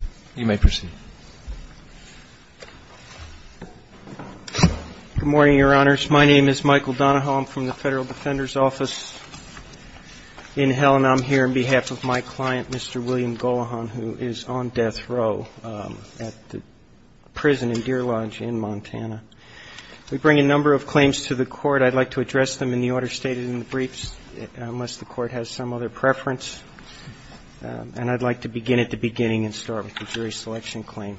Good morning, Your Honors. My name is Michael Donahoe. I'm from the Federal Defender's Office in Helen. I'm here on behalf of my client, Mr. William Gollehon, who is on death row at the prison in Deer Lodge in Montana. We bring a number of claims to the Court. I'd like to address them in the order stated in the briefs, unless the Court has some other preference. And I'd like to begin at the beginning and start with the jury selection claim.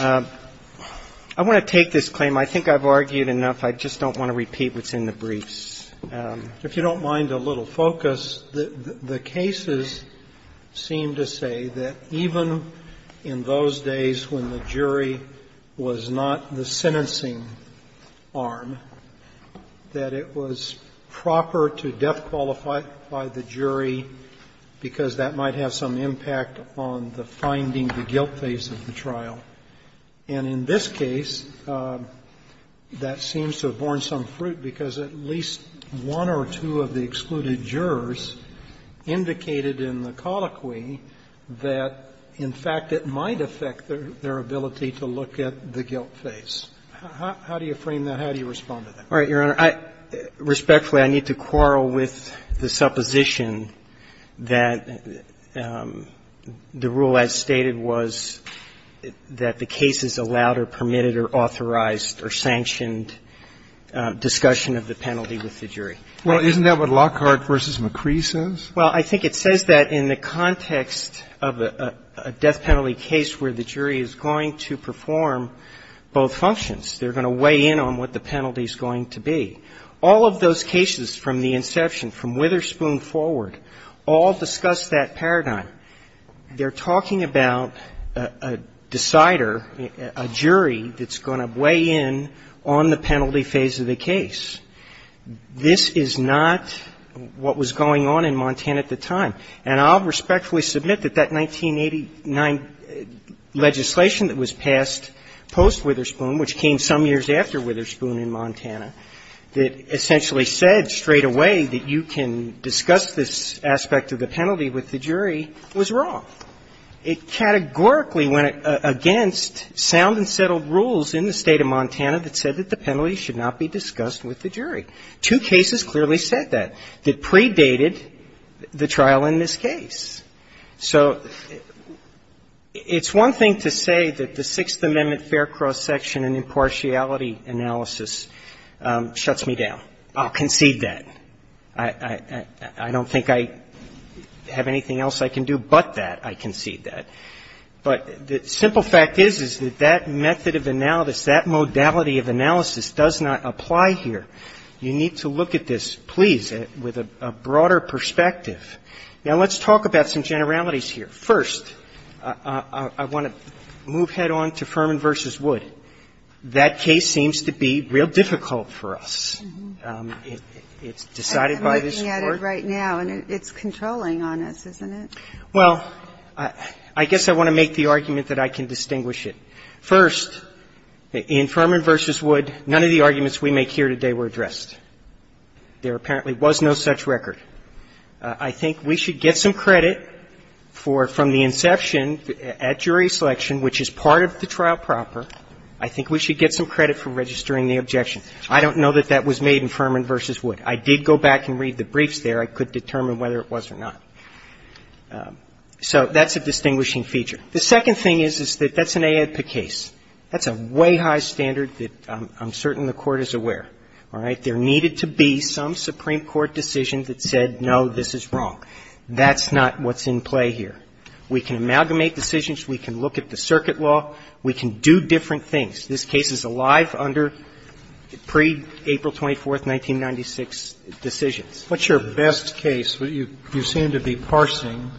I want to take this claim. I think I've argued enough. I just don't want to repeat what's in the briefs. If you don't mind a little focus, the cases seem to say that even in those days when the jury was not the sentencing arm, that it was proper to death qualify the jury because that might have some impact on the finding, the guilt phase of the trial. And in this case, that seems to have borne some fruit because at least one or two of the excluded jurors indicated in the colloquy that, in fact, it might affect their ability to look at the guilt phase. How do you frame that? How do you respond to that? All right, Your Honor. Respectfully, I need to quarrel with the supposition that the rule as stated was that the case is allowed or permitted or authorized or sanctioned discussion of the penalty with the jury. Well, isn't that what Lockhart v. McCree says? Well, I think it says that in the context of a death penalty case where the jury is going to perform both functions. They're going to weigh in on what the penalty is going to be. All of those cases from the inception, from Witherspoon forward, all discuss that paradigm. They're talking about a decider, a jury that's going to weigh in on the penalty phase of the case. This is not what was going on in Montana at the time. And I'll respectfully submit that that 1989 legislation that was passed post-Witherspoon, which came some years after Witherspoon in Montana, that essentially said straight away that you can discuss this aspect of the penalty with the jury, was wrong. It categorically went against sound and settled rules in the State of Montana that said that the penalty should not be discussed with the jury. Two cases clearly said that, that predated the trial in this case. So it's one thing to say that the Sixth Amendment fair cross-section and impartiality analysis shuts me down. I'll concede that. I don't think I have anything else I can do but that I concede that. But the simple fact is, is that that method of analysis, that modality of analysis does not apply here. You need to look at this, please, with a broader perspective. Now, let's talk about some generalities here. First, I want to move head on to Furman v. Wood. That case seems to be real difficult for us. It's decided by this Court. I'm looking at it right now, and it's controlling on us, isn't it? Well, I guess I want to make the argument that I can distinguish it. First, in Furman v. Wood, none of the arguments we make here today were addressed. There apparently was no such record. I think we should get some credit for, from the inception at jury selection, which is part of the trial proper, I think we should get some credit for registering the objection. I don't know that that was made in Furman v. Wood. I did go back and read the briefs there. I could determine whether it was or not. So that's a distinguishing feature. The second thing is, is that that's an AEDPA case. That's a way high standard that I'm certain the Court is aware, all right? That there needed to be some Supreme Court decision that said, no, this is wrong. That's not what's in play here. We can amalgamate decisions. We can look at the circuit law. We can do different things. This case is alive under pre-April 24th, 1996 decisions. What's your best case? You seem to be parsing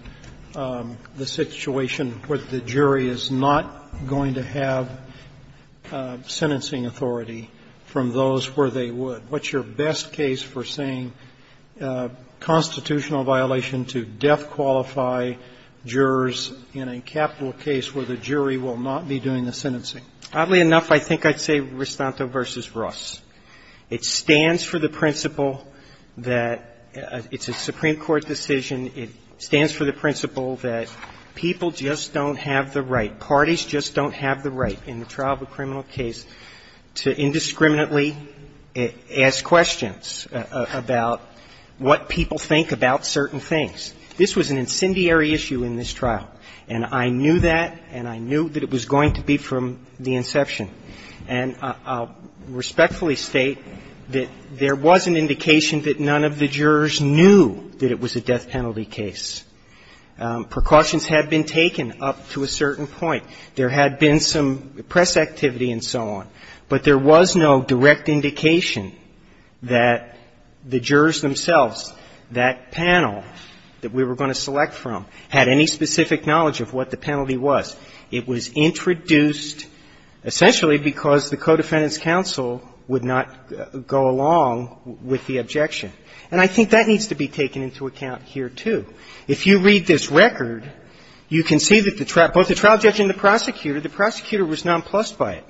the situation where the jury is not going to have sentencing authority from those where they would. What's your best case for saying constitutional violation to death qualify jurors in a capital case where the jury will not be doing the sentencing? Oddly enough, I think I'd say Ristanto v. Ross. It stands for the principle that it's a Supreme Court decision. It stands for the principle that people just don't have the right, parties just don't have the right in the trial of a criminal case to indiscriminately ask questions about what people think about certain things. This was an incendiary issue in this trial, and I knew that, and I knew that it was going to be from the inception. And I'll respectfully state that there was an indication that none of the jurors knew that it was a death penalty case. Precautions had been taken up to a certain point. There had been some press activity and so on, but there was no direct indication that the jurors themselves, that panel that we were going to select from, had any And I think that needs to be taken into account here, too. If you read this record, you can see that both the trial judge and the prosecutor, the prosecutor was nonplussed by it.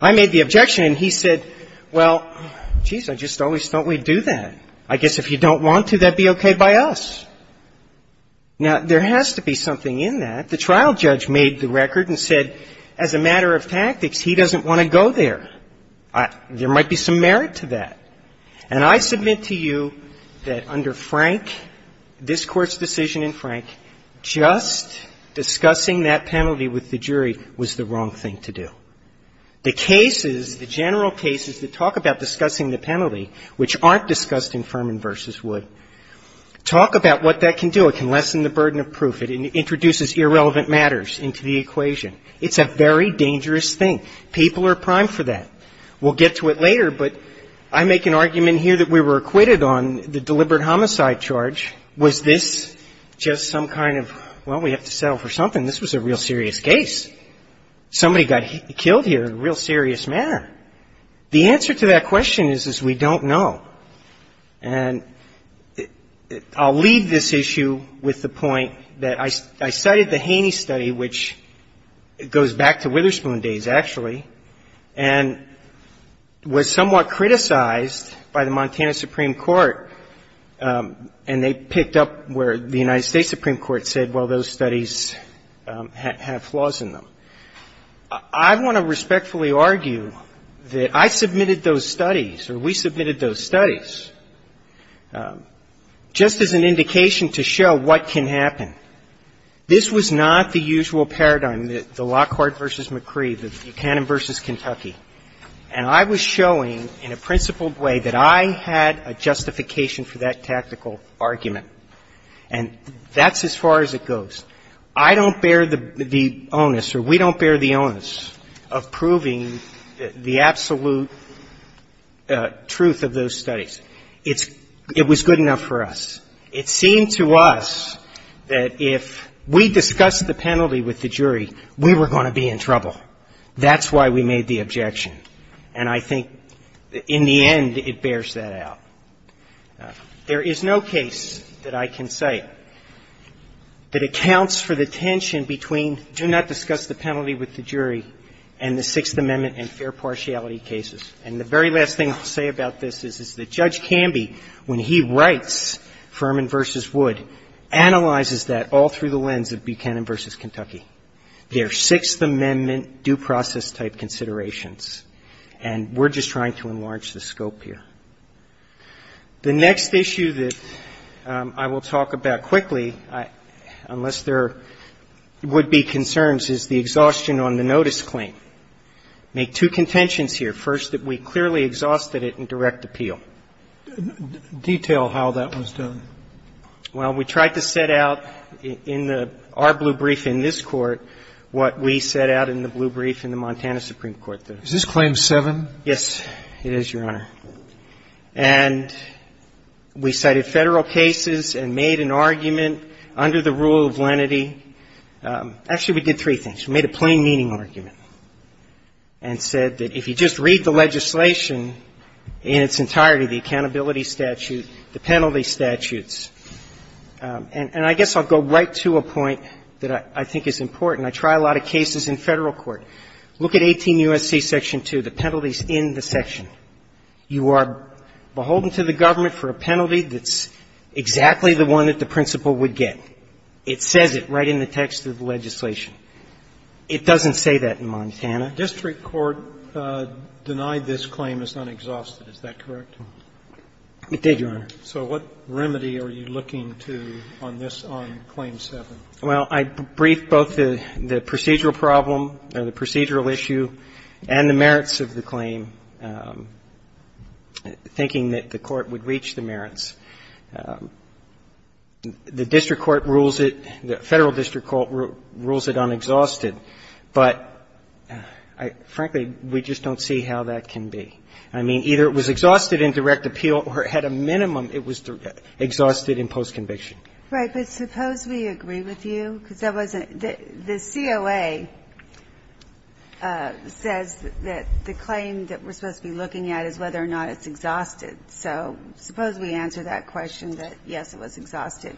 I made the objection, and he said, well, geez, I just always thought we'd do that. I guess if you don't want to, that would be okay by us. Now, there has to be something in that. The trial judge made the record and said, as a matter of tactics, he doesn't want to go there. There might be some merit to that. And I submit to you that under Frank, this Court's decision in Frank, just discussing that penalty with the jury was the wrong thing to do. The cases, the general cases that talk about discussing the penalty, which aren't discussed in Furman v. Wood, talk about what that can do. It can lessen the burden of proof. It introduces irrelevant matters into the equation. It's a very dangerous thing. People are primed for that. We'll get to it later, but I make an argument here that we were acquitted on the deliberate homicide charge. Was this just some kind of, well, we have to settle for something. This was a real serious case. Somebody got killed here in a real serious manner. The answer to that question is, is we don't know. And I'll leave this issue with the goes back to Witherspoon days, actually, and was somewhat criticized by the Montana Supreme Court, and they picked up where the United States Supreme Court said, well, those studies have flaws in them. I want to respectfully argue that I submitted those studies, or we submitted those studies, just as an indication to show what can be done. And I was showing in a principled way that I had a justification for that tactical argument. And that's as far as it goes. I don't bear the onus, or we don't bear the onus, of proving the absolute truth of those studies. It's – it was good enough for us. It seemed to us that if we discussed the penalty with the jury, we were going to be in trouble. That's why we made the objection. And I think in the end, it bears that out. There is no case that I can cite that accounts for the tension between do not discuss the penalty with the jury and the Sixth Amendment and fair partiality cases. And the very last thing I'll say about this is, is that Judge Camby, when he writes Furman v. Wood, analyzes that all through the lens of Buchanan v. Kentucky. There are six Sixth Amendment due process-type considerations. And we're just trying to enlarge the scope here. The next issue that I will talk about quickly, unless there would be concerns, is the exhaustion on the notice claim. Make two contentions here. First, that we clearly exhausted it in direct appeal. Roberts. Detail how that was done. Well, we tried to set out in our blue brief in this Court what we set out in the blue brief in the Montana Supreme Court. Is this Claim 7? Yes, it is, Your Honor. And we cited Federal cases and made an argument under the rule of lenity. Actually, we did three things. We made a plain meaning argument and said that if you just read the legislation in its entirety, the accountability statute, the penalty statutes. And I guess I'll go right to a point that I think is important. I try a lot of cases in Federal court. Look at 18 U.S.C. Section 2. The penalty is in the section. You are beholden to the government for a penalty that's exactly the one that the principal would get. It says it right in the text of the legislation. It doesn't say that in Montana. District court denied this claim as unexhausted. Is that correct? It did, Your Honor. So what remedy are you looking to on this, on Claim 7? Well, I briefed both the procedural problem or the procedural issue and the merits of the claim, thinking that the Court would reach the merits. The district court rules it, the Federal district court rules it unexhausted. But, frankly, we just don't see how that can be. I mean, either it was exhausted in direct appeal or it had a minimum it was exhausted in post-conviction. Right. But suppose we agree with you, because that wasn't the COA says that the claim that we're supposed to be looking at is whether or not it's exhausted. So suppose we answer that question that, yes, it was exhausted.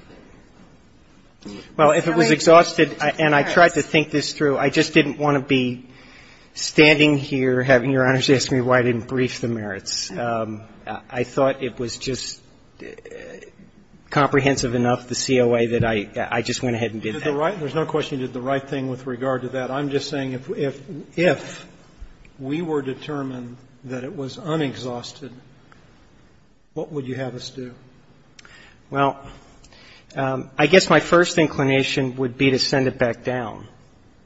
Well, if it was exhausted and I tried to think this through, I just didn't want to be I thought it was just comprehensive enough, the COA, that I just went ahead and did that. There's no question you did the right thing with regard to that. I'm just saying if we were determined that it was unexhausted, what would you have us do? Well, I guess my first inclination would be to send it back down.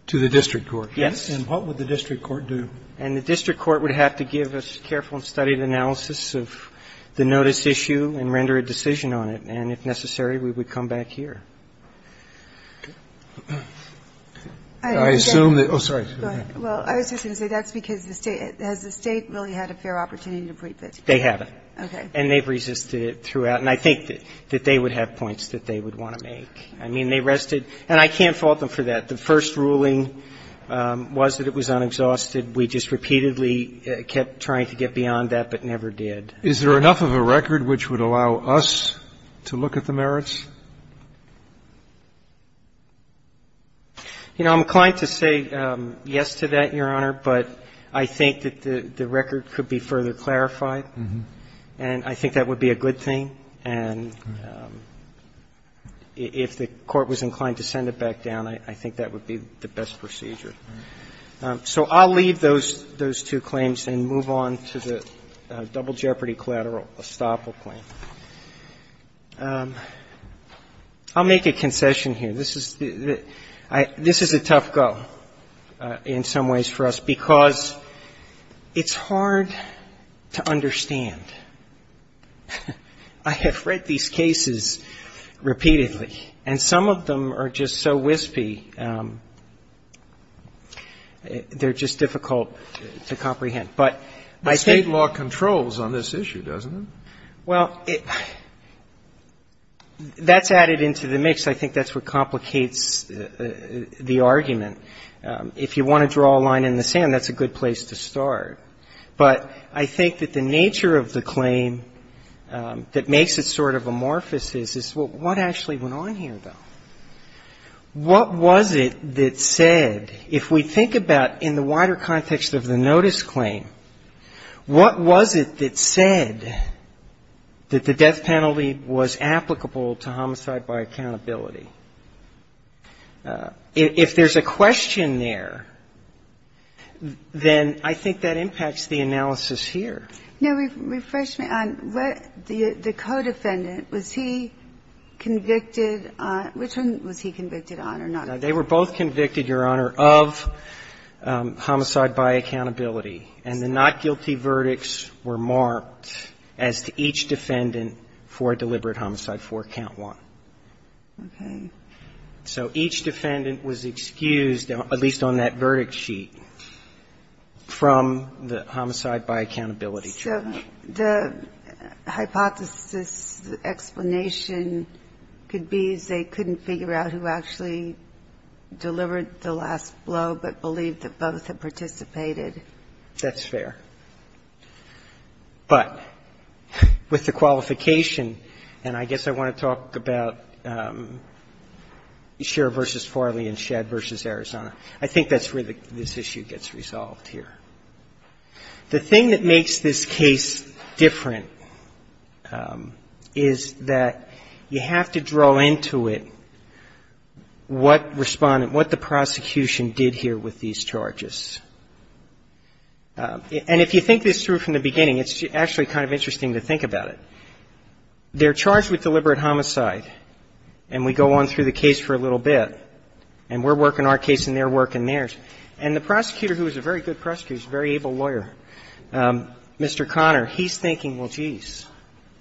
To the district court. Yes. And what would the district court do? And the district court would have to give a careful and studied analysis of the notice issue and render a decision on it. And if necessary, we would come back here. I assume that oh, sorry. Go ahead. Well, I was just going to say that's because the State has the State really had a fair opportunity to brief it. They haven't. Okay. And they've resisted it throughout. And I think that they would have points that they would want to make. I mean, they rested and I can't fault them for that. The first ruling was that it was unexhausted. We just repeatedly kept trying to get beyond that but never did. Is there enough of a record which would allow us to look at the merits? You know, I'm inclined to say yes to that, Your Honor, but I think that the record could be further clarified. And I think that would be a good thing. And if the court was inclined to send it back down, I think that would be the best procedure. So I'll leave those two claims and move on to the double jeopardy collateral estoppel claim. I'll make a concession here. This is a tough go in some ways for us because it's hard to understand. I have read these cases repeatedly and some of them are just so wispy, they're just difficult to comprehend. But I think the state law controls on this issue, doesn't it? Well, that's added into the mix. I think that's what complicates the argument. If you want to draw a line in the sand, that's a good place to start. But I think that the nature of the claim that makes it sort of amorphous is, well, what actually went on here, though? What was it that said, if we think about in the wider context of the notice claim, what was it that said that the death penalty was applicable to homicide by accountability? If there's a question there, then I think that impacts the analysis here. No, refresh me on what the co-defendant, was he convicted on, which one was he convicted on or not? No, they were both convicted, Your Honor, of homicide by accountability. And the not guilty verdicts were marked as to each defendant for deliberate homicide for count one. Okay. So each defendant was excused, at least on that verdict sheet, from the homicide by accountability trial. So the hypothesis, the explanation could be they couldn't figure out who actually delivered the last blow, but believed that both had participated. That's fair. But with the qualification, and I guess I want to talk about Scherer v. Farley and Shedd v. Arizona, I think that's where this issue gets resolved here. The thing that makes this case different is that you have to draw into it what respondent, what the prosecution did here with these charges. And if you think this through from the beginning, it's actually kind of interesting to think about it. They're charged with deliberate homicide, and we go on through the case for a little bit. And we're working our case and they're working theirs. And the prosecutor, who was a very good prosecutor, he was a very able lawyer, Mr. Connor, he's thinking, well, geez,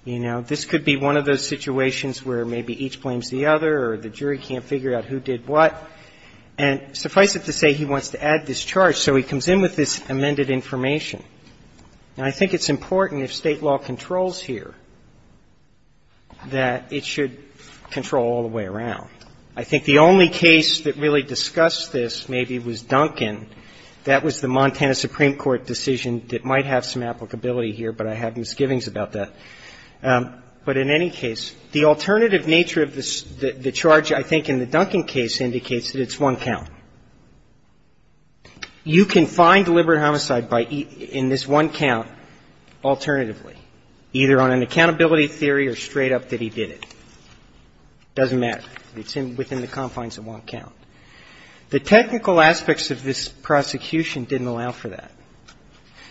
you know, this could be one of those situations where maybe each blames the other or the jury can't figure out who did what. And suffice it to say he wants to add this charge, so he comes in with this amended information. And I think it's important if State law controls here that it should control all the way around. I think the only case that really discussed this maybe was Duncan. That was the Montana Supreme Court decision that might have some applicability here, but I have misgivings about that. But in any case, the alternative nature of the charge, I think, in the Duncan case indicates that it's one count. You can find deliberate homicide in this one count alternatively, either on an accountability theory or straight up that he did it. Doesn't matter. It's within the confines of one count. The technical aspects of this prosecution didn't allow for that,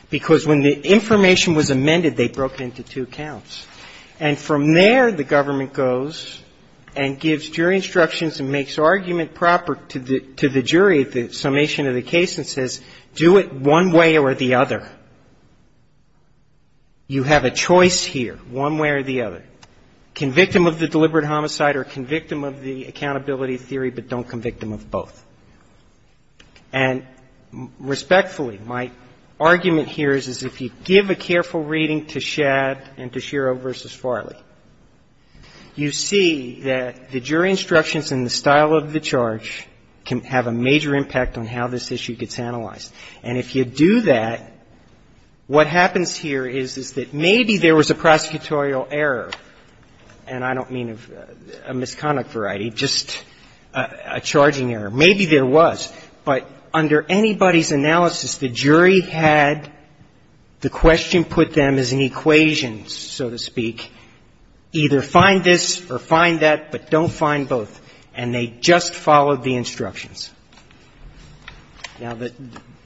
because when the information was amended, they broke it into two counts. And from there, the government goes and gives jury instructions and makes arguments proper to the jury at the summation of the case and says, do it one way or the other. You have a choice here, one way or the other. Convict him of the deliberate homicide or convict him of the accountability theory, but don't convict him of both. And respectfully, my argument here is if you give a careful reading to Shad and to Shad, your instructions and the style of the charge can have a major impact on how this issue gets analyzed. And if you do that, what happens here is that maybe there was a prosecutorial error, and I don't mean a misconduct variety, just a charging error. Maybe there was, but under anybody's analysis, the jury had the question put them as an equation, so to speak. Either find this or find that, but don't find both. And they just followed the instructions. Now, the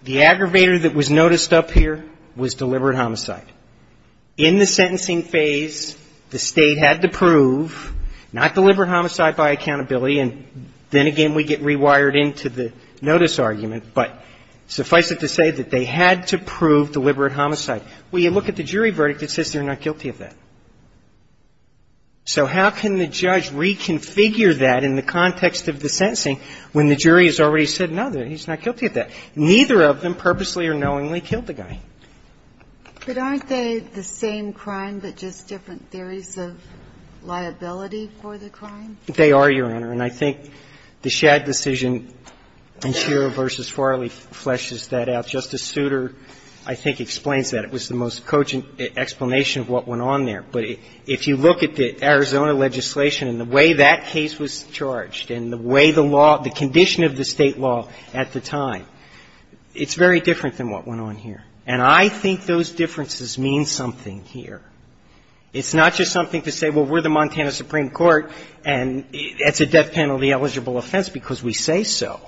aggravator that was noticed up here was deliberate homicide. In the sentencing phase, the State had to prove not deliberate homicide by accountability, and then again we get rewired into the notice argument, but suffice it to say that they had to prove deliberate homicide. Well, you look at the jury verdict, it says they're not guilty of that. So how can the judge reconfigure that in the context of the sentencing when the jury has already said, no, he's not guilty of that? Neither of them purposely or knowingly killed the guy. But aren't they the same crime, but just different theories of liability for the crime? They are, Your Honor, and I think the Shad decision in Shearer v. Farley fleshes that out. Justice Souter, I think, explains that. It was the most cogent explanation of what went on there. But if you look at the Arizona legislation and the way that case was charged and the way the law, the condition of the State law at the time, it's very different than what went on here. And I think those differences mean something here. It's not just something to say, well, we're the Montana Supreme Court and it's a death penalty eligible offense because we say so.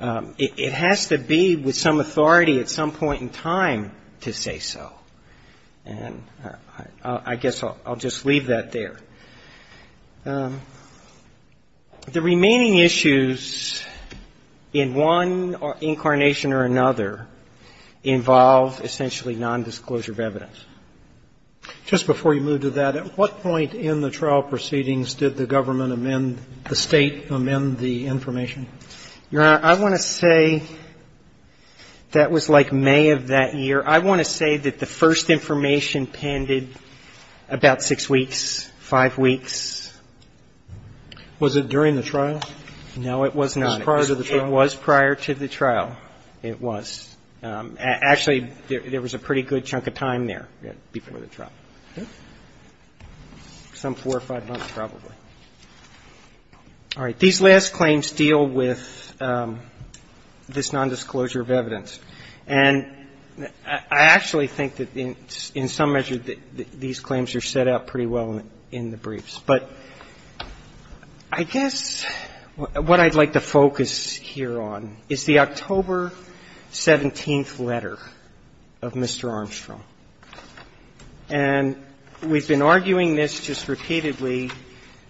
It has to be with some authority at some point in time to say so. And I guess I'll just leave that there. The remaining issues in one incarnation or another involve essentially nondisclosure of evidence. Just before you move to that, at what point in the trial proceedings did the government make amend the information? Your Honor, I want to say that was like May of that year. I want to say that the first information pended about six weeks, five weeks. Was it during the trial? No, it was not. It was prior to the trial? It was prior to the trial. It was. Actually, there was a pretty good chunk of time there before the trial. Some four or five months, probably. All right. These last claims deal with this nondisclosure of evidence. And I actually think that in some measure that these claims are set out pretty well in the briefs. But I guess what I'd like to focus here on is the October 17th letter of Mr. Armstrong. And we've been arguing this just repeatedly,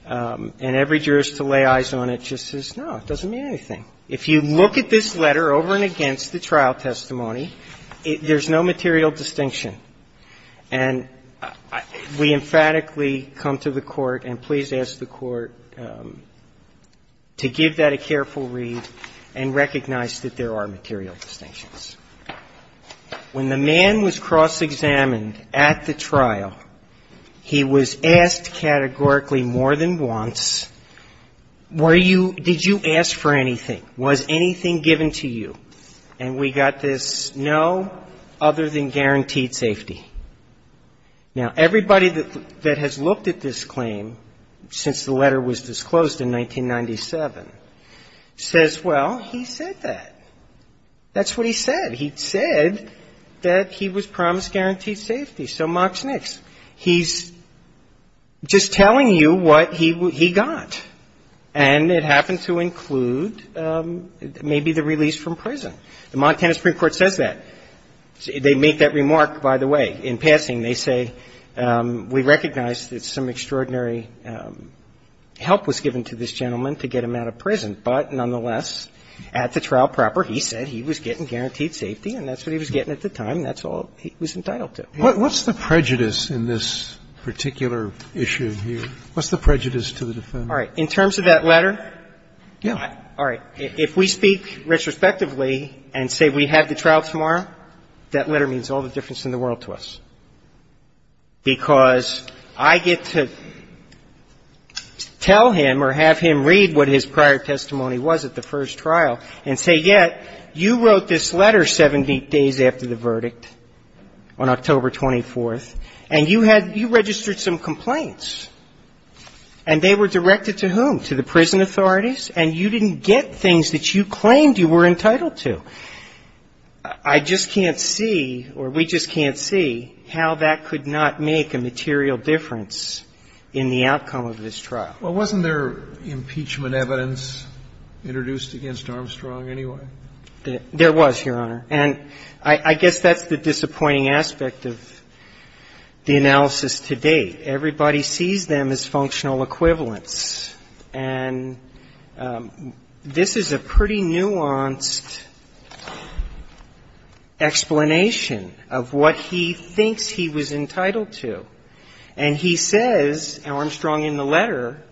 and every jurist to lay eyes on it just says, no, it doesn't mean anything. If you look at this letter over and against the trial testimony, there's no material distinction. And we emphatically come to the Court and please ask the Court to give that a careful read and recognize that there are material distinctions. When the man was cross-examined at the trial, he was asked categorically more than once, were you, did you ask for anything? Was anything given to you? And we got this, no, other than guaranteed safety. Now, everybody that has looked at this claim since the letter was disclosed in 1997 says, well, he said that. That's what he said. He said that he was promised guaranteed safety. So mocks Nix. He's just telling you what he got. And it happened to include maybe the release from prison. The Montana Supreme Court says that. They make that remark, by the way, in passing. They say, we recognize that some extraordinary help was given to this gentleman to get him out of prison. But nonetheless, at the trial proper, he said he was getting guaranteed safety and that's what he was getting at the time and that's all he was entitled to. What's the prejudice in this particular issue here? What's the prejudice to the defendant? All right. In terms of that letter? Yeah. All right. If we speak retrospectively and say we have the trial tomorrow, that letter means all the difference in the world to us because I get to tell him or have him read what his prior testimony was at the first trial and say, yeah, you wrote this letter 70 days after the verdict on October 24th and you had you registered some complaints and they were directed to whom? To the prison authorities and you didn't get things that you claimed you were entitled to. I just can't see or we just can't see how that could not make a material difference in the outcome of this trial. Well, wasn't there impeachment evidence introduced against Armstrong anyway? There was, Your Honor. And I guess that's the disappointing aspect of the analysis to date. Everybody sees them as functional equivalents. And this is a pretty nuanced explanation of what he thinks he was entitled to. And he says, and Armstrong in the letter,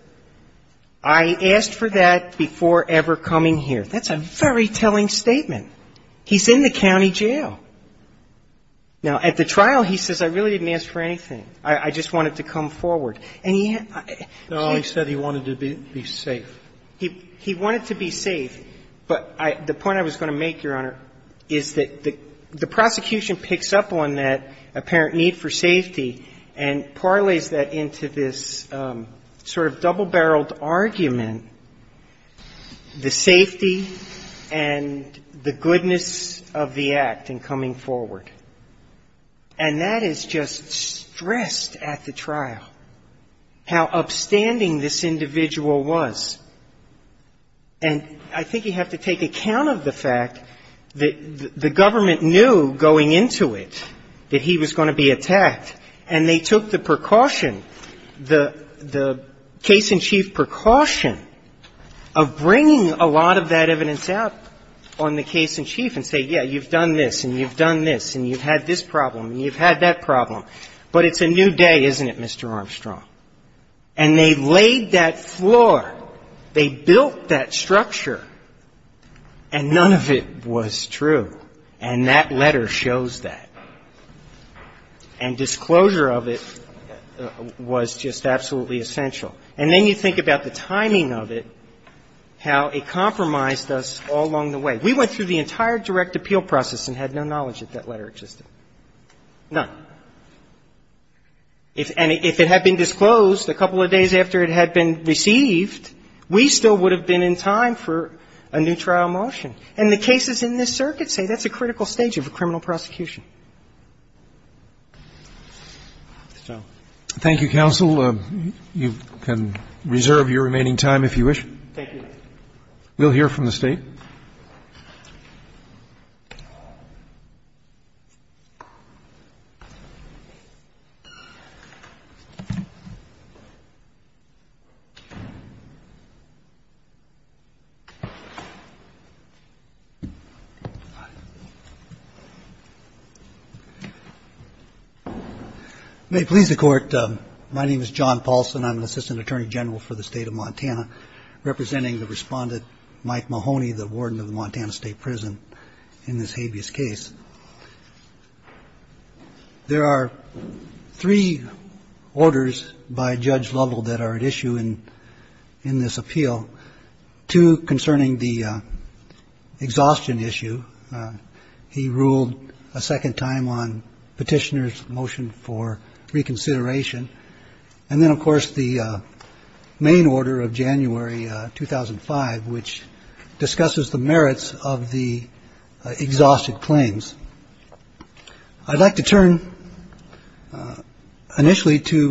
I asked for that before ever coming here. That's a very telling statement. He's in the county jail. Now, at the trial, he says I really didn't ask for anything. I just wanted to come forward. No, he said he wanted to be safe. He wanted to be safe. But the point I was going to make, Your Honor, is that the prosecution picks up on that apparent need for safety and parlays that into this sort of double-barreled argument, the safety and the goodness of the act in coming forward. And that is just stressed at the trial, how upstanding this individual was. And I think you have to take account of the fact that the government knew going into it that he was going to be attacked, and they took the precaution, the case-in-chief precaution of bringing a lot of that evidence out on the case-in-chief and say, yeah, you've done this and you've done this and you've had this problem and you've had that problem, but it's a new day, isn't it, Mr. Armstrong? And they laid that floor. They built that structure. And none of it was true. And that letter shows that. And disclosure of it was just absolutely essential. And then you think about the timing of it, how it compromised us all along the way. We went through the entire direct appeal process and had no knowledge that that letter existed. None. And if it had been disclosed a couple of days after it had been received, we still would have been in time for a new trial motion. And the cases in this circuit say that's a critical stage of a criminal prosecution. Thank you, counsel. You can reserve your remaining time if you wish. Thank you. We'll hear from the State. May it please the Court. My name is John Paulson. I'm an assistant attorney general for the State of Montana, representing the respondent, Mike Mahoney, the warden of the Montana State Prison, in this habeas case. There are three orders by Judge Lovell that are at issue in this appeal, two concerning the exhaustion issue. He ruled a second time on petitioner's motion for reconsideration. And then, of course, the main order of January 2005, which discusses the merits of the exhausted claims. I'd like to turn initially to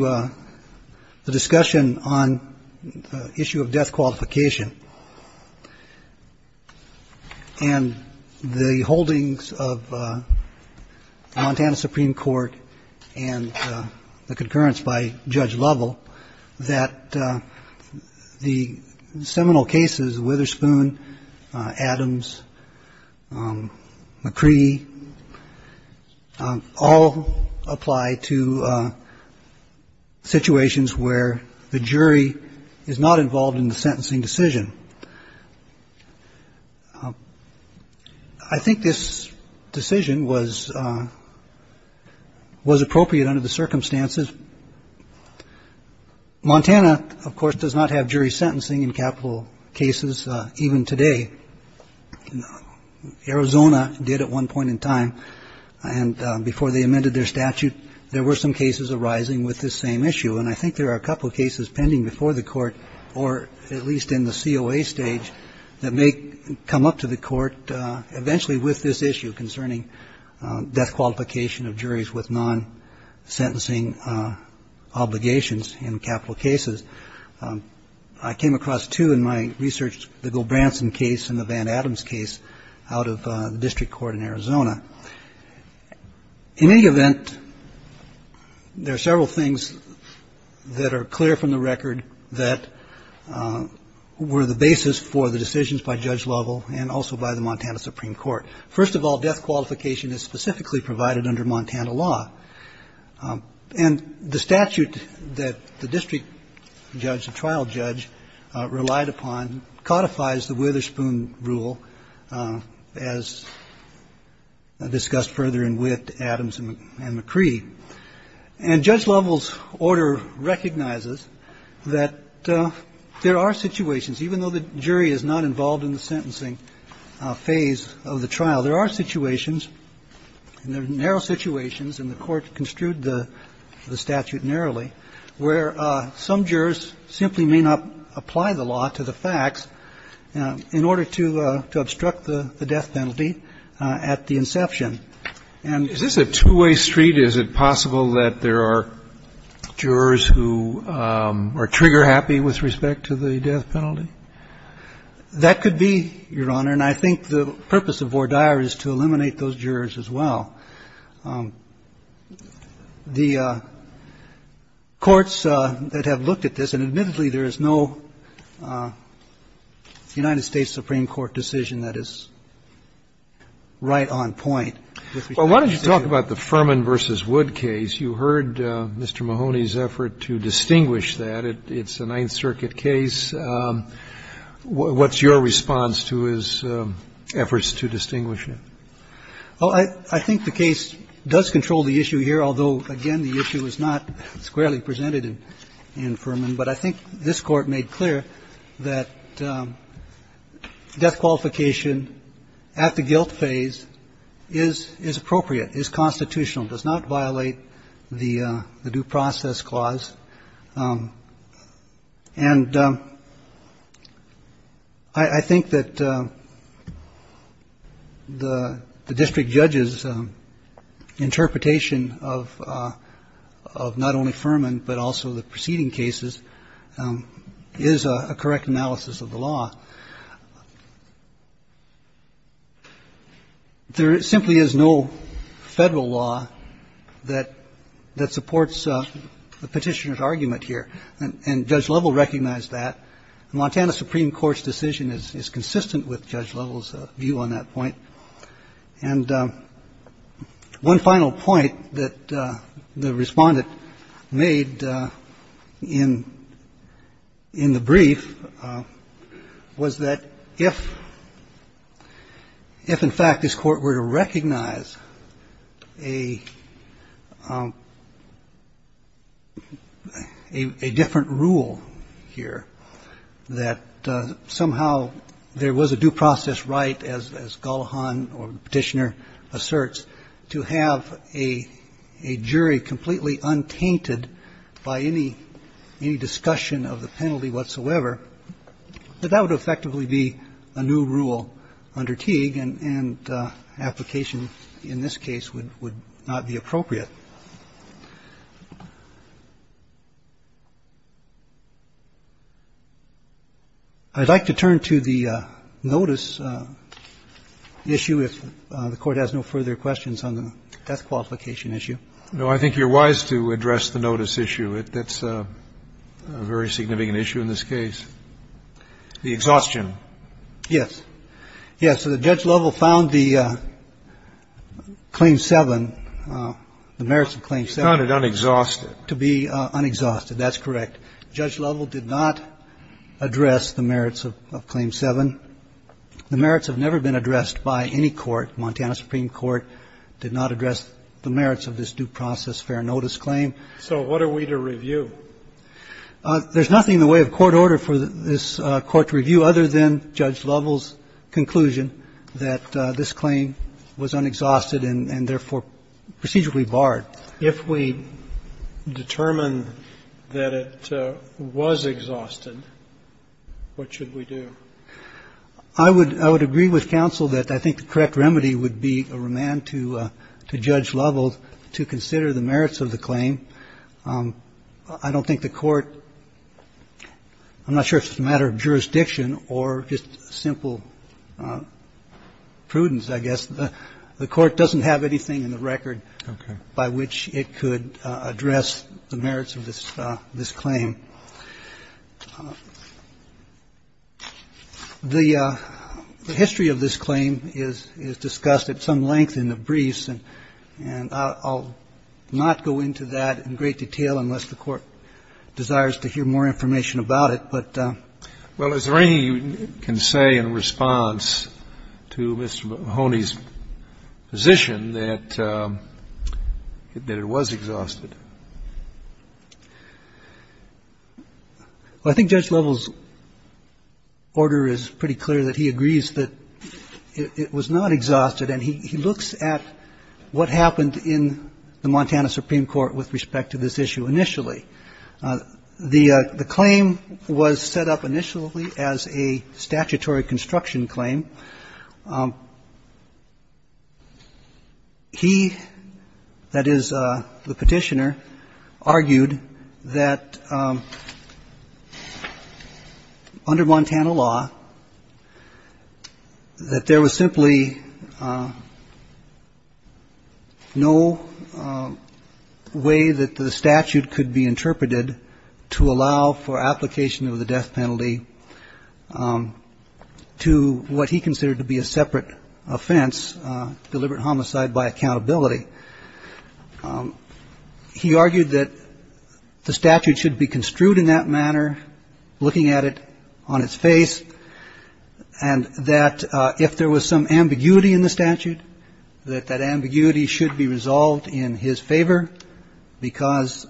the discussion on the issue of death qualification and the holdings of Montana Supreme Court and the concurrence by Judge Lovell that the seminal cases, Witherspoon, Adams, McCree, all apply to situations where the jury is not involved in the sentencing decision. I think this decision was appropriate under the circumstances. Montana, of course, does not have jury sentencing in capital cases even today. Arizona did at one point in time. And before they amended their statute, there were some cases arising with this same issue. And I think there are a couple of cases pending before the Court, or at least in the COA stage, that may come up to the Court eventually with this issue concerning death qualification of juries with non-sentencing obligations in capital cases. I came across two in my research, the Gilbranson case and the Van Adams case, out of the District Court in Arizona. In any event, there are several things that are clear from the record that were the basis for the decisions by Judge Lovell and also by the Montana Supreme Court. First of all, death qualification is specifically provided under Montana law. And the statute that the district judge, the trial judge, relied upon codifies the Witherspoon rule as discussed further in With, Adams, and McCree. And Judge Lovell's order recognizes that there are situations, even though the jury is not involved in the sentencing phase of the trial, there are situations, narrow situations, and the Court construed the statute narrowly, where some jurors simply may not apply the law to the facts in order to obstruct the death penalty at the inception. And this is a two-way street. Is it possible that there are jurors who are trigger-happy with respect to the death penalty? That could be, Your Honor. And I think the purpose of voir dire is to eliminate those jurors as well. The courts that have looked at this, and admittedly, there is no United States Supreme Court decision that is right on point with respect to this issue. Well, why don't you talk about the Furman v. Wood case. You heard Mr. Mahoney's effort to distinguish that. It's a Ninth Circuit case. What's your response to his efforts to distinguish it? Well, I think the case does control the issue here, although, again, the issue is not squarely presented in Furman. But I think this Court made clear that death qualification at the guilt phase is appropriate, is constitutional, does not violate the due process clause. And I think that the district judge's interpretation of not only Furman, but also the preceding cases, is a correct analysis of the law. There simply is no federal law that supports the petitioner's argument here. And Judge Lovell recognized that. The Montana Supreme Court's decision is consistent with Judge Lovell's view on that point. And one final point that the Respondent made in the brief was that there is no federal And one final point that the Respondent made in the brief was that if, in fact, this Court were to recognize a different rule here, that somehow there was a due process right, as Gullahan or the petitioner asserts, to have a jury completely untainted by any discussion of the penalty whatsoever, that that would effectively be a new rule under Teague, and application in this case would not be appropriate. I'd like to turn to the notice issue, if the Court has no further questions on the death qualification issue. No, I think you're wise to address the notice issue. That's a very significant issue in this case. The exhaustion. Yes. Yes. The merits of Claim 7. You found it unexhausted. To be unexhausted. That's correct. Judge Lovell did not address the merits of Claim 7. The merits have never been addressed by any court. Montana Supreme Court did not address the merits of this due process fair notice claim. So what are we to review? There's nothing in the way of court order for this Court to review other than Judge Lovell's claim was unexhausted and therefore procedurally barred. If we determine that it was exhausted, what should we do? I would agree with counsel that I think the correct remedy would be a remand to Judge Lovell to consider the merits of the claim. I don't think the Court – I'm not sure if it's a matter of jurisdiction or just simple prudence, I guess. The Court doesn't have anything in the record by which it could address the merits of this claim. The history of this claim is discussed at some length in the briefs, and I'll not go into that in great detail unless the Court desires to hear more information about it. Well, is there anything you can say in response to Mr. Mahoney's position that it was exhausted? Well, I think Judge Lovell's order is pretty clear that he agrees that it was not exhausted, and he looks at what happened in the Montana Supreme Court with respect to this issue initially. The claim was set up initially as a statutory construction claim. He, that is, the Petitioner, argued that under Montana law that there was simply no way that the statute could be interpreted to allow for application of the death penalty to what he considered to be a separate offense, deliberate homicide by accountability. He argued that the statute should be construed in that manner, looking at it on its face, and that if there was some ambiguity in the statute, that that ambiguity should be resolved in his favor because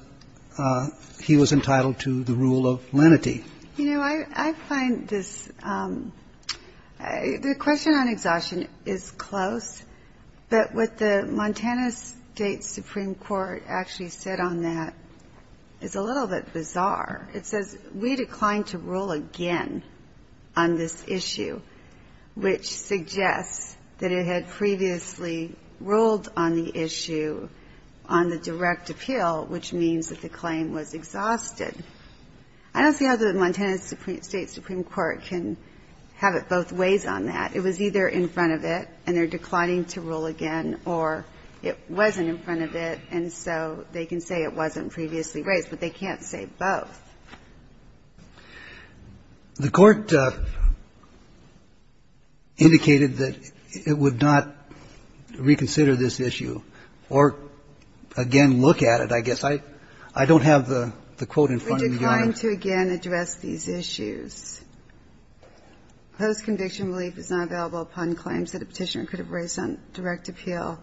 he was entitled to the rule of lenity. You know, I find this, the question on exhaustion is close, but what the Montana State Supreme Court actually said on that is a little bit bizarre. It says, we declined to rule again on this issue, which suggests that it had previously ruled on the issue on the direct appeal, which means that the claim was exhausted. I don't see how the Montana State Supreme Court can have it both ways on that. It was either in front of it, and they're declining to rule again, or it wasn't in front of it, and so they can say it wasn't previously raised, but they can't say it was both. The Court indicated that it would not reconsider this issue or, again, look at it, I guess. I don't have the quote in front of me. We declined to again address these issues. Close conviction relief is not available upon claims that a Petitioner could have raised on direct appeal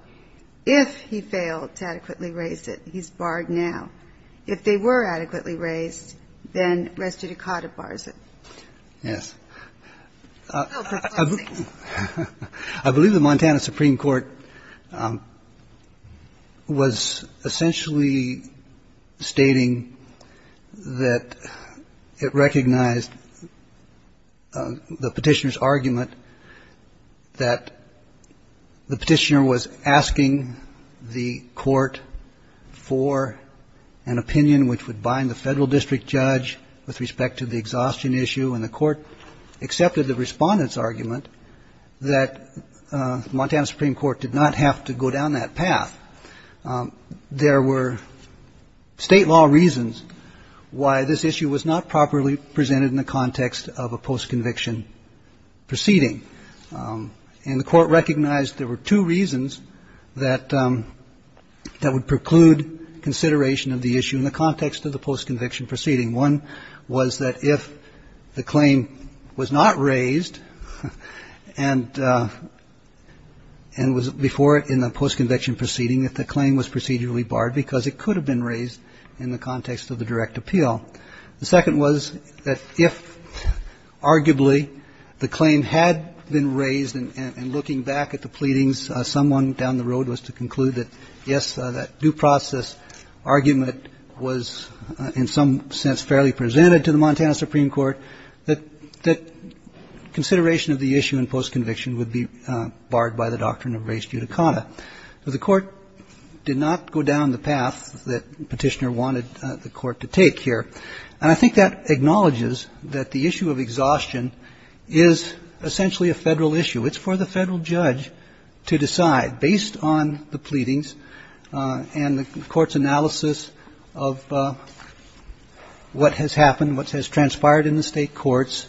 if he failed to adequately raise it. He's barred now. If they were adequately raised, then res judicata bars it. Yes. I believe the Montana Supreme Court was essentially stating that it recognized the Petitioner's argument that the Petitioner was asking the Court for an appeal and opinion which would bind the Federal District Judge with respect to the exhaustion issue, and the Court accepted the Respondent's argument that the Montana Supreme Court did not have to go down that path. There were State law reasons why this issue was not properly presented in the context of a post-conviction proceeding, and the Court recognized there were two reasons that would preclude consideration of the issue in the context of the post-conviction proceeding. One was that if the claim was not raised and was before it in the post-conviction proceeding, that the claim was procedurally barred because it could have been raised in the context of the direct appeal. The second was that if arguably the claim had been raised and looking back at the post-conviction proceeding, it would preclude that, yes, that due process argument was in some sense fairly presented to the Montana Supreme Court, that consideration of the issue in post-conviction would be barred by the doctrine of res judicata. The Court did not go down the path that the Petitioner wanted the Court to take here, and I think that acknowledges that the issue of exhaustion is essentially a Federal issue. It's for the Federal judge to decide, based on the pleadings and the Court's analysis of what has happened, what has transpired in the State courts,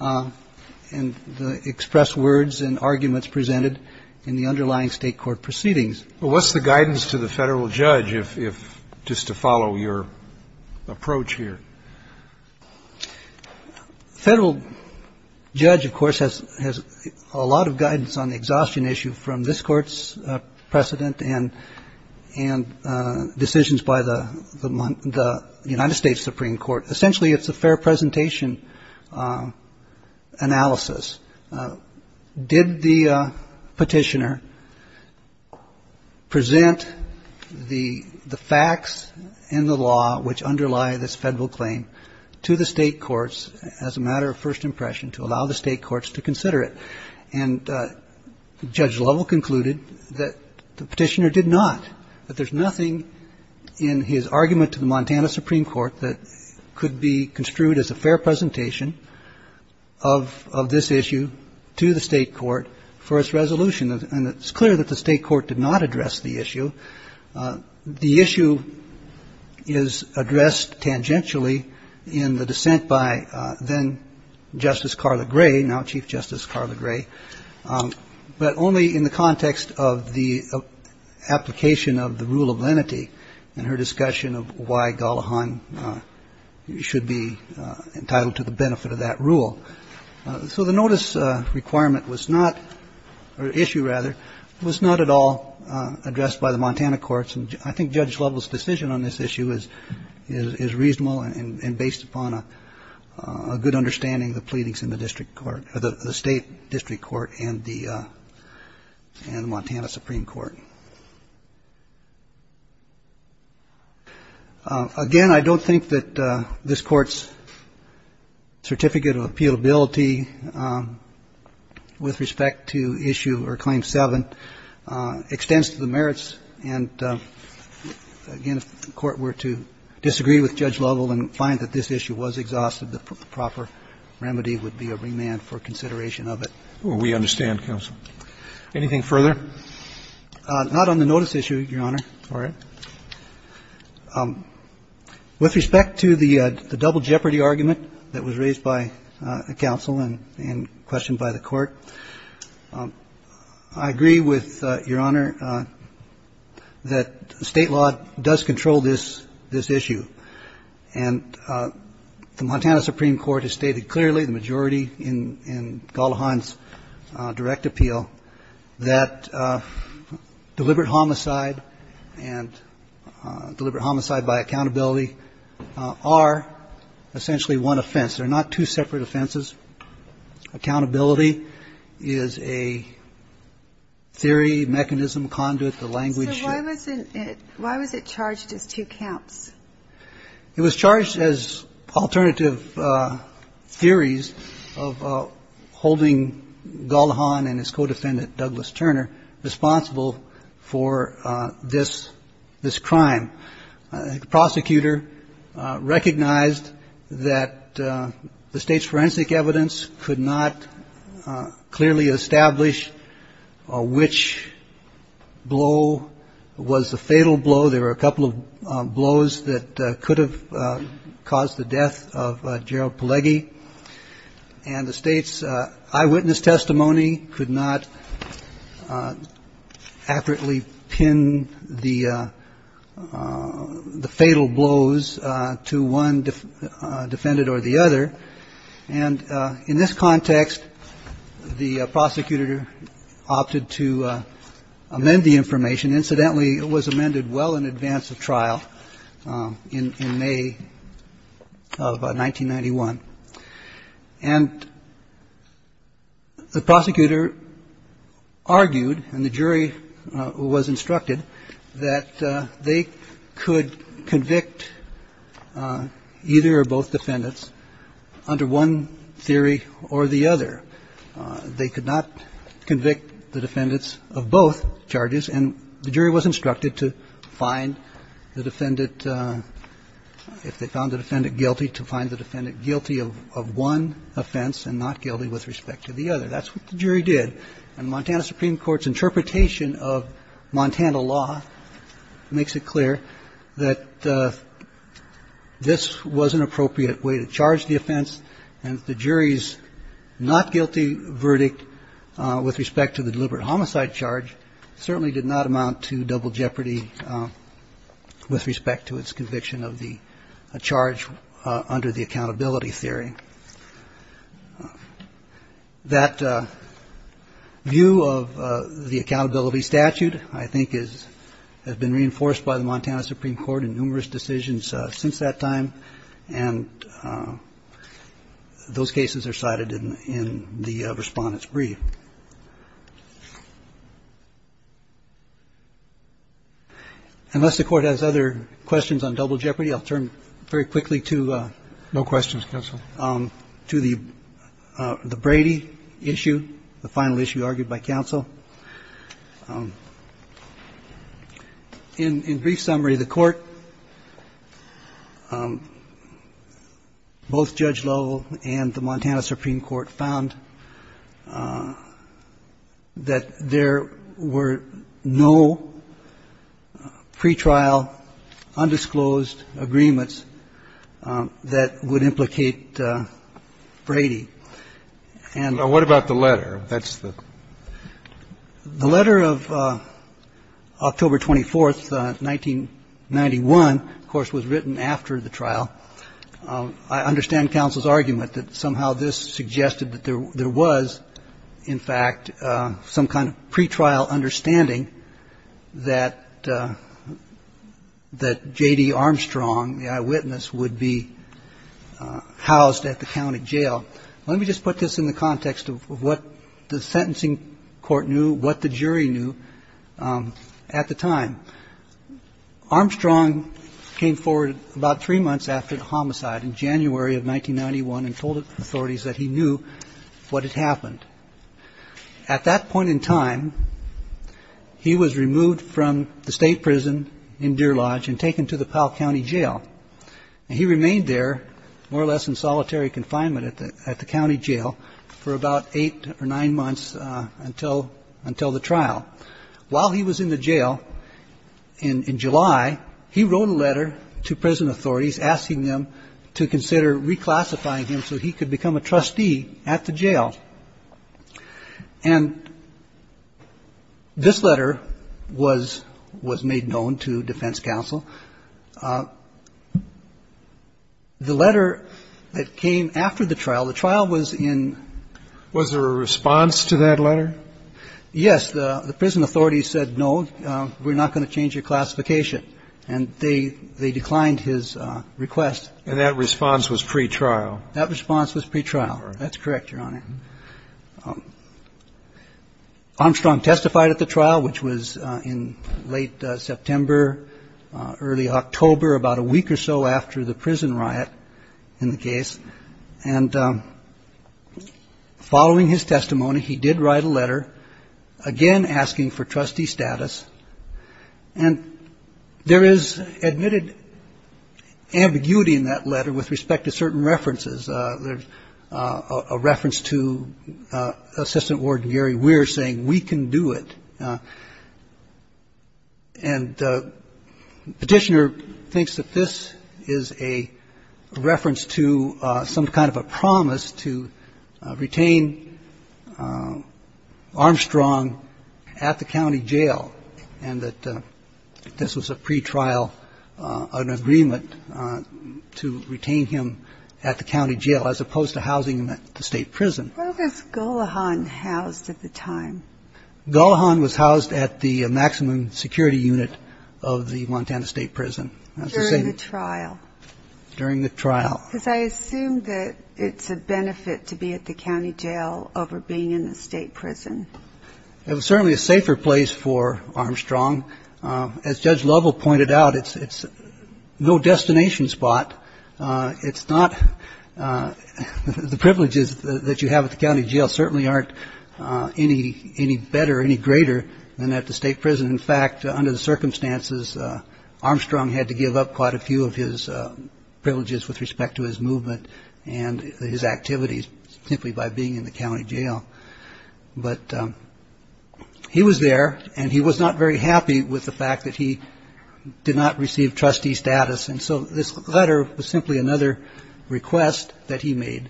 and the expressed words and arguments presented in the underlying State court proceedings. But what's the guidance to the Federal judge if, just to follow your approach here? The Federal judge, of course, has a lot of guidance on the exhaustion issue from this Court's precedent and decisions by the United States Supreme Court. Essentially, it's a fair presentation analysis. Did the Petitioner present the facts in the law which underlie this Federal claim to the State courts as a matter of first impression to allow the State courts to consider it? And Judge Lovell concluded that the Petitioner did not, that there's nothing in his argument to the Montana Supreme Court that could be construed as a fair presentation of this issue to the State court for its resolution, and it's clear that the State court did not address the issue. The issue is addressed tangentially in the dissent by then Justice Carla Gray, now Chief Justice Carla Gray, but only in the context of the application of the rule of lenity and her discussion of why Gullahan should be entitled to the benefit of that rule. So the notice requirement was not, or issue rather, was not at all addressed by the Montana Supreme Court. And I think Judge Lovell's decision on this issue is reasonable and based upon a good understanding of the pleadings in the District Court, or the State District Court and the Montana Supreme Court. Again, I don't think that this Court's certificate of appealability with respect to issue or Claim 7 extends to the merits. And again, if the Court were to disagree with Judge Lovell and find that this issue was exhausted, the proper remedy would be a remand for consideration of it. Well, we understand, counsel. Anything further? Not on the notice issue, Your Honor. All right. With respect to the double jeopardy argument that was raised by the counsel, and questioned by the Court, I agree with Your Honor that state law does control this issue. And the Montana Supreme Court has stated clearly, the majority in Gullahan's direct appeal, that deliberate homicide and deliberate homicide by accountability are essentially one offense. They're not two separate offenses. Accountability is a theory, mechanism, conduit, the language. So why was it charged as two counts? It was charged as alternative theories of holding Gullahan and his co-defendant, Douglas Turner, responsible for this crime. The prosecutor recognized that the state's forensic evidence could not clearly establish which blow was the fatal blow. There were a couple of blows that could have caused the death of Gerald Pelleggi. And the state's eyewitness testimony could not accurately pin the fatal blows to one defendant or the other. And in this context, the prosecutor opted to amend the information. Incidentally, it was amended well in advance of trial in May of 1991. And the prosecutor argued and the jury was instructed that they could convict either or both defendants under one theory or the other. They could not convict the defendants of both charges. And the jury was instructed to find the defendant, if they found the defendant guilty, to find the defendant guilty of one offense and not guilty with respect to the other. That's what the jury did. And Montana Supreme Court's interpretation of Montana law makes it clear that this was an appropriate way to charge the offense. And the jury's not guilty verdict with respect to the deliberate homicide charge certainly did not amount to double jeopardy with respect to its conviction of the charge under the accountability theory. That view of the accountability statute, I think, has been reinforced by the Montana Supreme Court in numerous decisions since that time. And those cases are cited in the Respondent's Brief. Unless the Court has other questions on double jeopardy, I'll turn very quickly to No questions, Counsel. to the Brady issue, the final issue argued by Counsel. In brief summary, the Court, both Judge Lowell and the Montana Supreme Court found that there were no pretrial undisclosed agreements that would implicate Brady. And what about the letter? That's the The letter of October 24, 1991, of course, was written after the trial. I understand Counsel's argument that somehow this suggested that there was, in fact, some kind of pretrial understanding that J.D. Armstrong, the eyewitness, would be housed at the county jail. Let me just put this in the context of what the sentencing court knew, what the jury knew at the time. Armstrong came forward about three months after the homicide in January of 1991 and told the authorities that he knew what had happened. At that point in time, he was removed from the state prison in Deer Lodge and taken to the Powell County Jail. And he remained there, more or less in solitary confinement at the county jail, for about eight or nine months until the trial. While he was in the jail in July, he wrote a letter to prison authorities asking them to consider reclassifying him so he could become a trustee at the jail. And this letter was made known to defense counsel. The letter that came after the trial, the trial was in Was there a response to that letter? Yes. The prison authorities said, no, we're not going to change your classification. And they declined his request. And that response was pretrial? That response was pretrial. That's correct, Your Honor. Armstrong testified at the trial, which was in late September, early October, about a week or so after the prison riot in the case. And following his testimony, he did write a letter, again asking for trustee status. And there is admitted ambiguity in that letter with respect to certain references. There's a reference to Assistant Warden Gary Weir saying, we can do it. And the petitioner thinks that this is a reference to some kind of a promise to retain Armstrong at the county jail and that this was a pretrial, an agreement to retain him at the county jail as opposed to housing him at the state prison. Where was Gullahan housed at the time? Gullahan was housed at the maximum security unit of the Montana State Prison. During the trial? During the trial. Because I assume that it's a benefit to be at the county jail over being in the state prison. It was certainly a safer place for Armstrong. As Judge Lovell pointed out, it's no destination spot. The privileges that you have at the county jail certainly aren't any better, any greater than at the state prison. In fact, under the circumstances, Armstrong had to give up quite a few of his privileges with respect to his movement and his activities simply by being in the county jail. But he was there and he was not very happy with the fact that he did not receive trustee status. And so this letter was simply another request that he made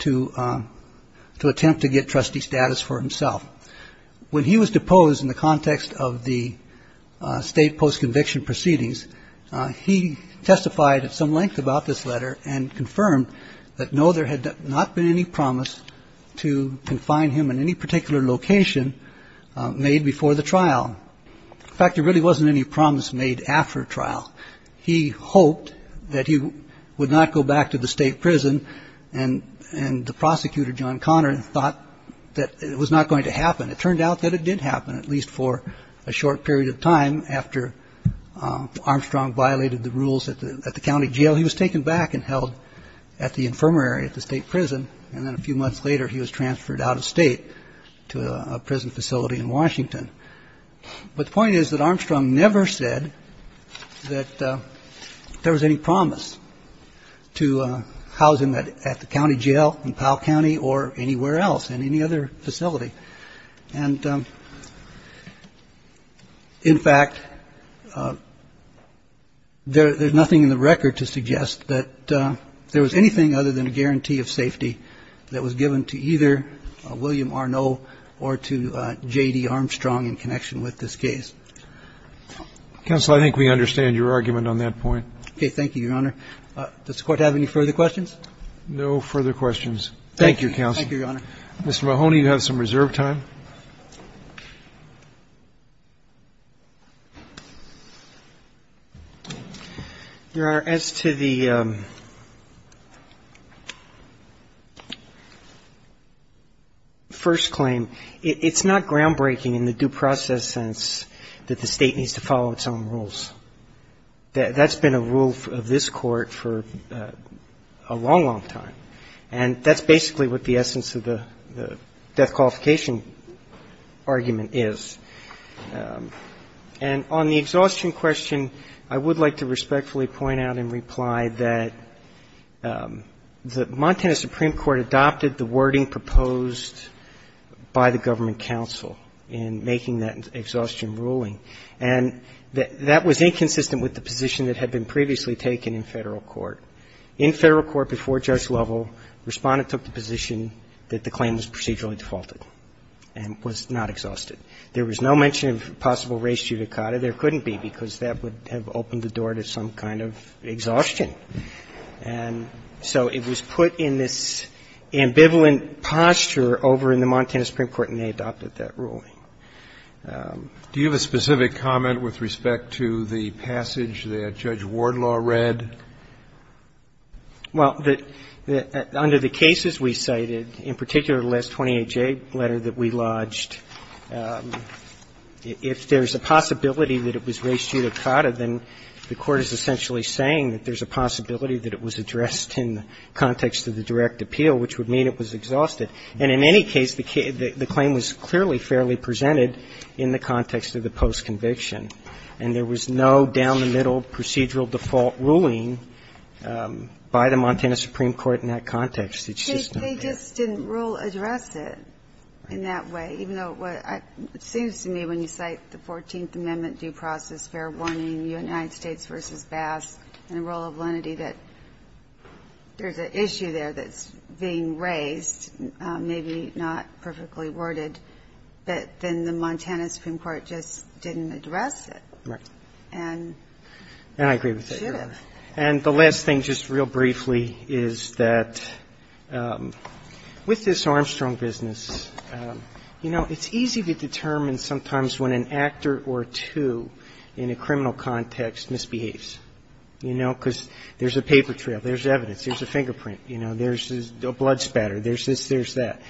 to attempt to get trustee status for himself. When he was deposed in the context of the state post-conviction proceedings, he testified at some length about this letter and confirmed that, no, there had not been any promise to confine him in any particular location made before the trial. In fact, there really wasn't any promise made after trial. He hoped that he would not go back to the state prison. And and the prosecutor, John Connor, thought that it was not going to happen. It turned out that it did happen, at least for a short period of time. After Armstrong violated the rules at the county jail, he was taken back and held at the infirmary at the state prison. And then a few months later, he was transferred out of state to a prison facility in Washington. But the point is that Armstrong never said that there was any promise to housing that at the county jail in Powell County or anywhere else in any other facility. And in fact, there's nothing in the record to suggest that there was anything other than a guarantee of safety that was given to either. William Arno or to J.D. Armstrong in connection with this case. Counsel, I think we understand your argument on that point. Okay, thank you, Your Honor. Does the court have any further questions? No further questions. Thank you, Counsel. Thank you, Your Honor. Mr. Mahoney, you have some reserve time. Your Honor, as to the first claim, it's not groundbreaking in the due process sense that the state needs to follow its own rules. That's been a rule of this Court for a long, long time. And that's basically what the essence of the death qualification is. And on the exhaustion question, I would like to respectfully point out in reply that the Montana Supreme Court adopted the wording proposed by the government counsel in making that exhaustion ruling. And that was inconsistent with the position that had been previously taken in Federal Court. In Federal Court before Judge Lovell, Respondent took the position that the claim was procedurally defaulted and was not exhausted. There was no mention of possible race judicata. There couldn't be, because that would have opened the door to some kind of exhaustion. And so it was put in this ambivalent posture over in the Montana Supreme Court, and they adopted that ruling. Do you have a specific comment with respect to the passage that Judge Wardlaw read? Well, under the cases we cited, in particular the last 28-J letter that we lodged, if there's a possibility that it was race judicata, then the Court is essentially saying that there's a possibility that it was addressed in the context of the direct appeal, which would mean it was exhausted. And in any case, the claim was clearly fairly presented in the context of the post-conviction. And there was no down-the-middle procedural default ruling by the Montana Supreme Court in that context. They just didn't rule address it in that way, even though it seems to me when you cite the 14th Amendment due process, fair warning, United States v. Basque, and the rule of lenity, that there's an issue there that's being raised. Maybe not perfectly worded, but then the Montana Supreme Court just didn't address it. Right. And I agree with that. And the last thing, just real briefly, is that with this Armstrong business, you know, it's easy to determine sometimes when an actor or two in a criminal context misbehaves, you know, because there's a paper trail, there's evidence, there's a fingerprint, you know, there's a blood spatter, there's this, there's that.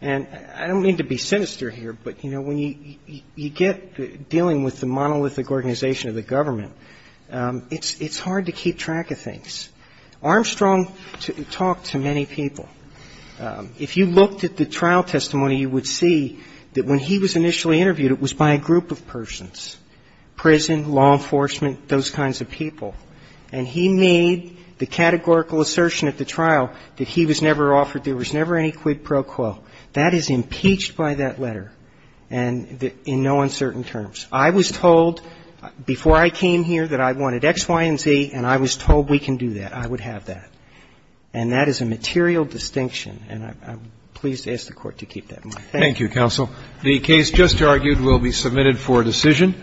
And I don't mean to be sinister here, but, you know, when you get dealing with the monolithic organization of the government, it's hard to keep track of things. Armstrong talked to many people. If you looked at the trial testimony, you would see that when he was initially interviewed, it was by a group of persons, prison, law enforcement, those kinds of people. And he made the categorical assertion at the trial that he was never offered, there was never any quid pro quo. That is impeached by that letter, and in no uncertain terms. I was told before I came here that I wanted X, Y, and Z, and I was told we can do that, I would have that. And that is a material distinction, and I'm pleased to ask the Court to keep that in mind. Thank you. Thank you, counsel. The case just argued will be submitted for decision.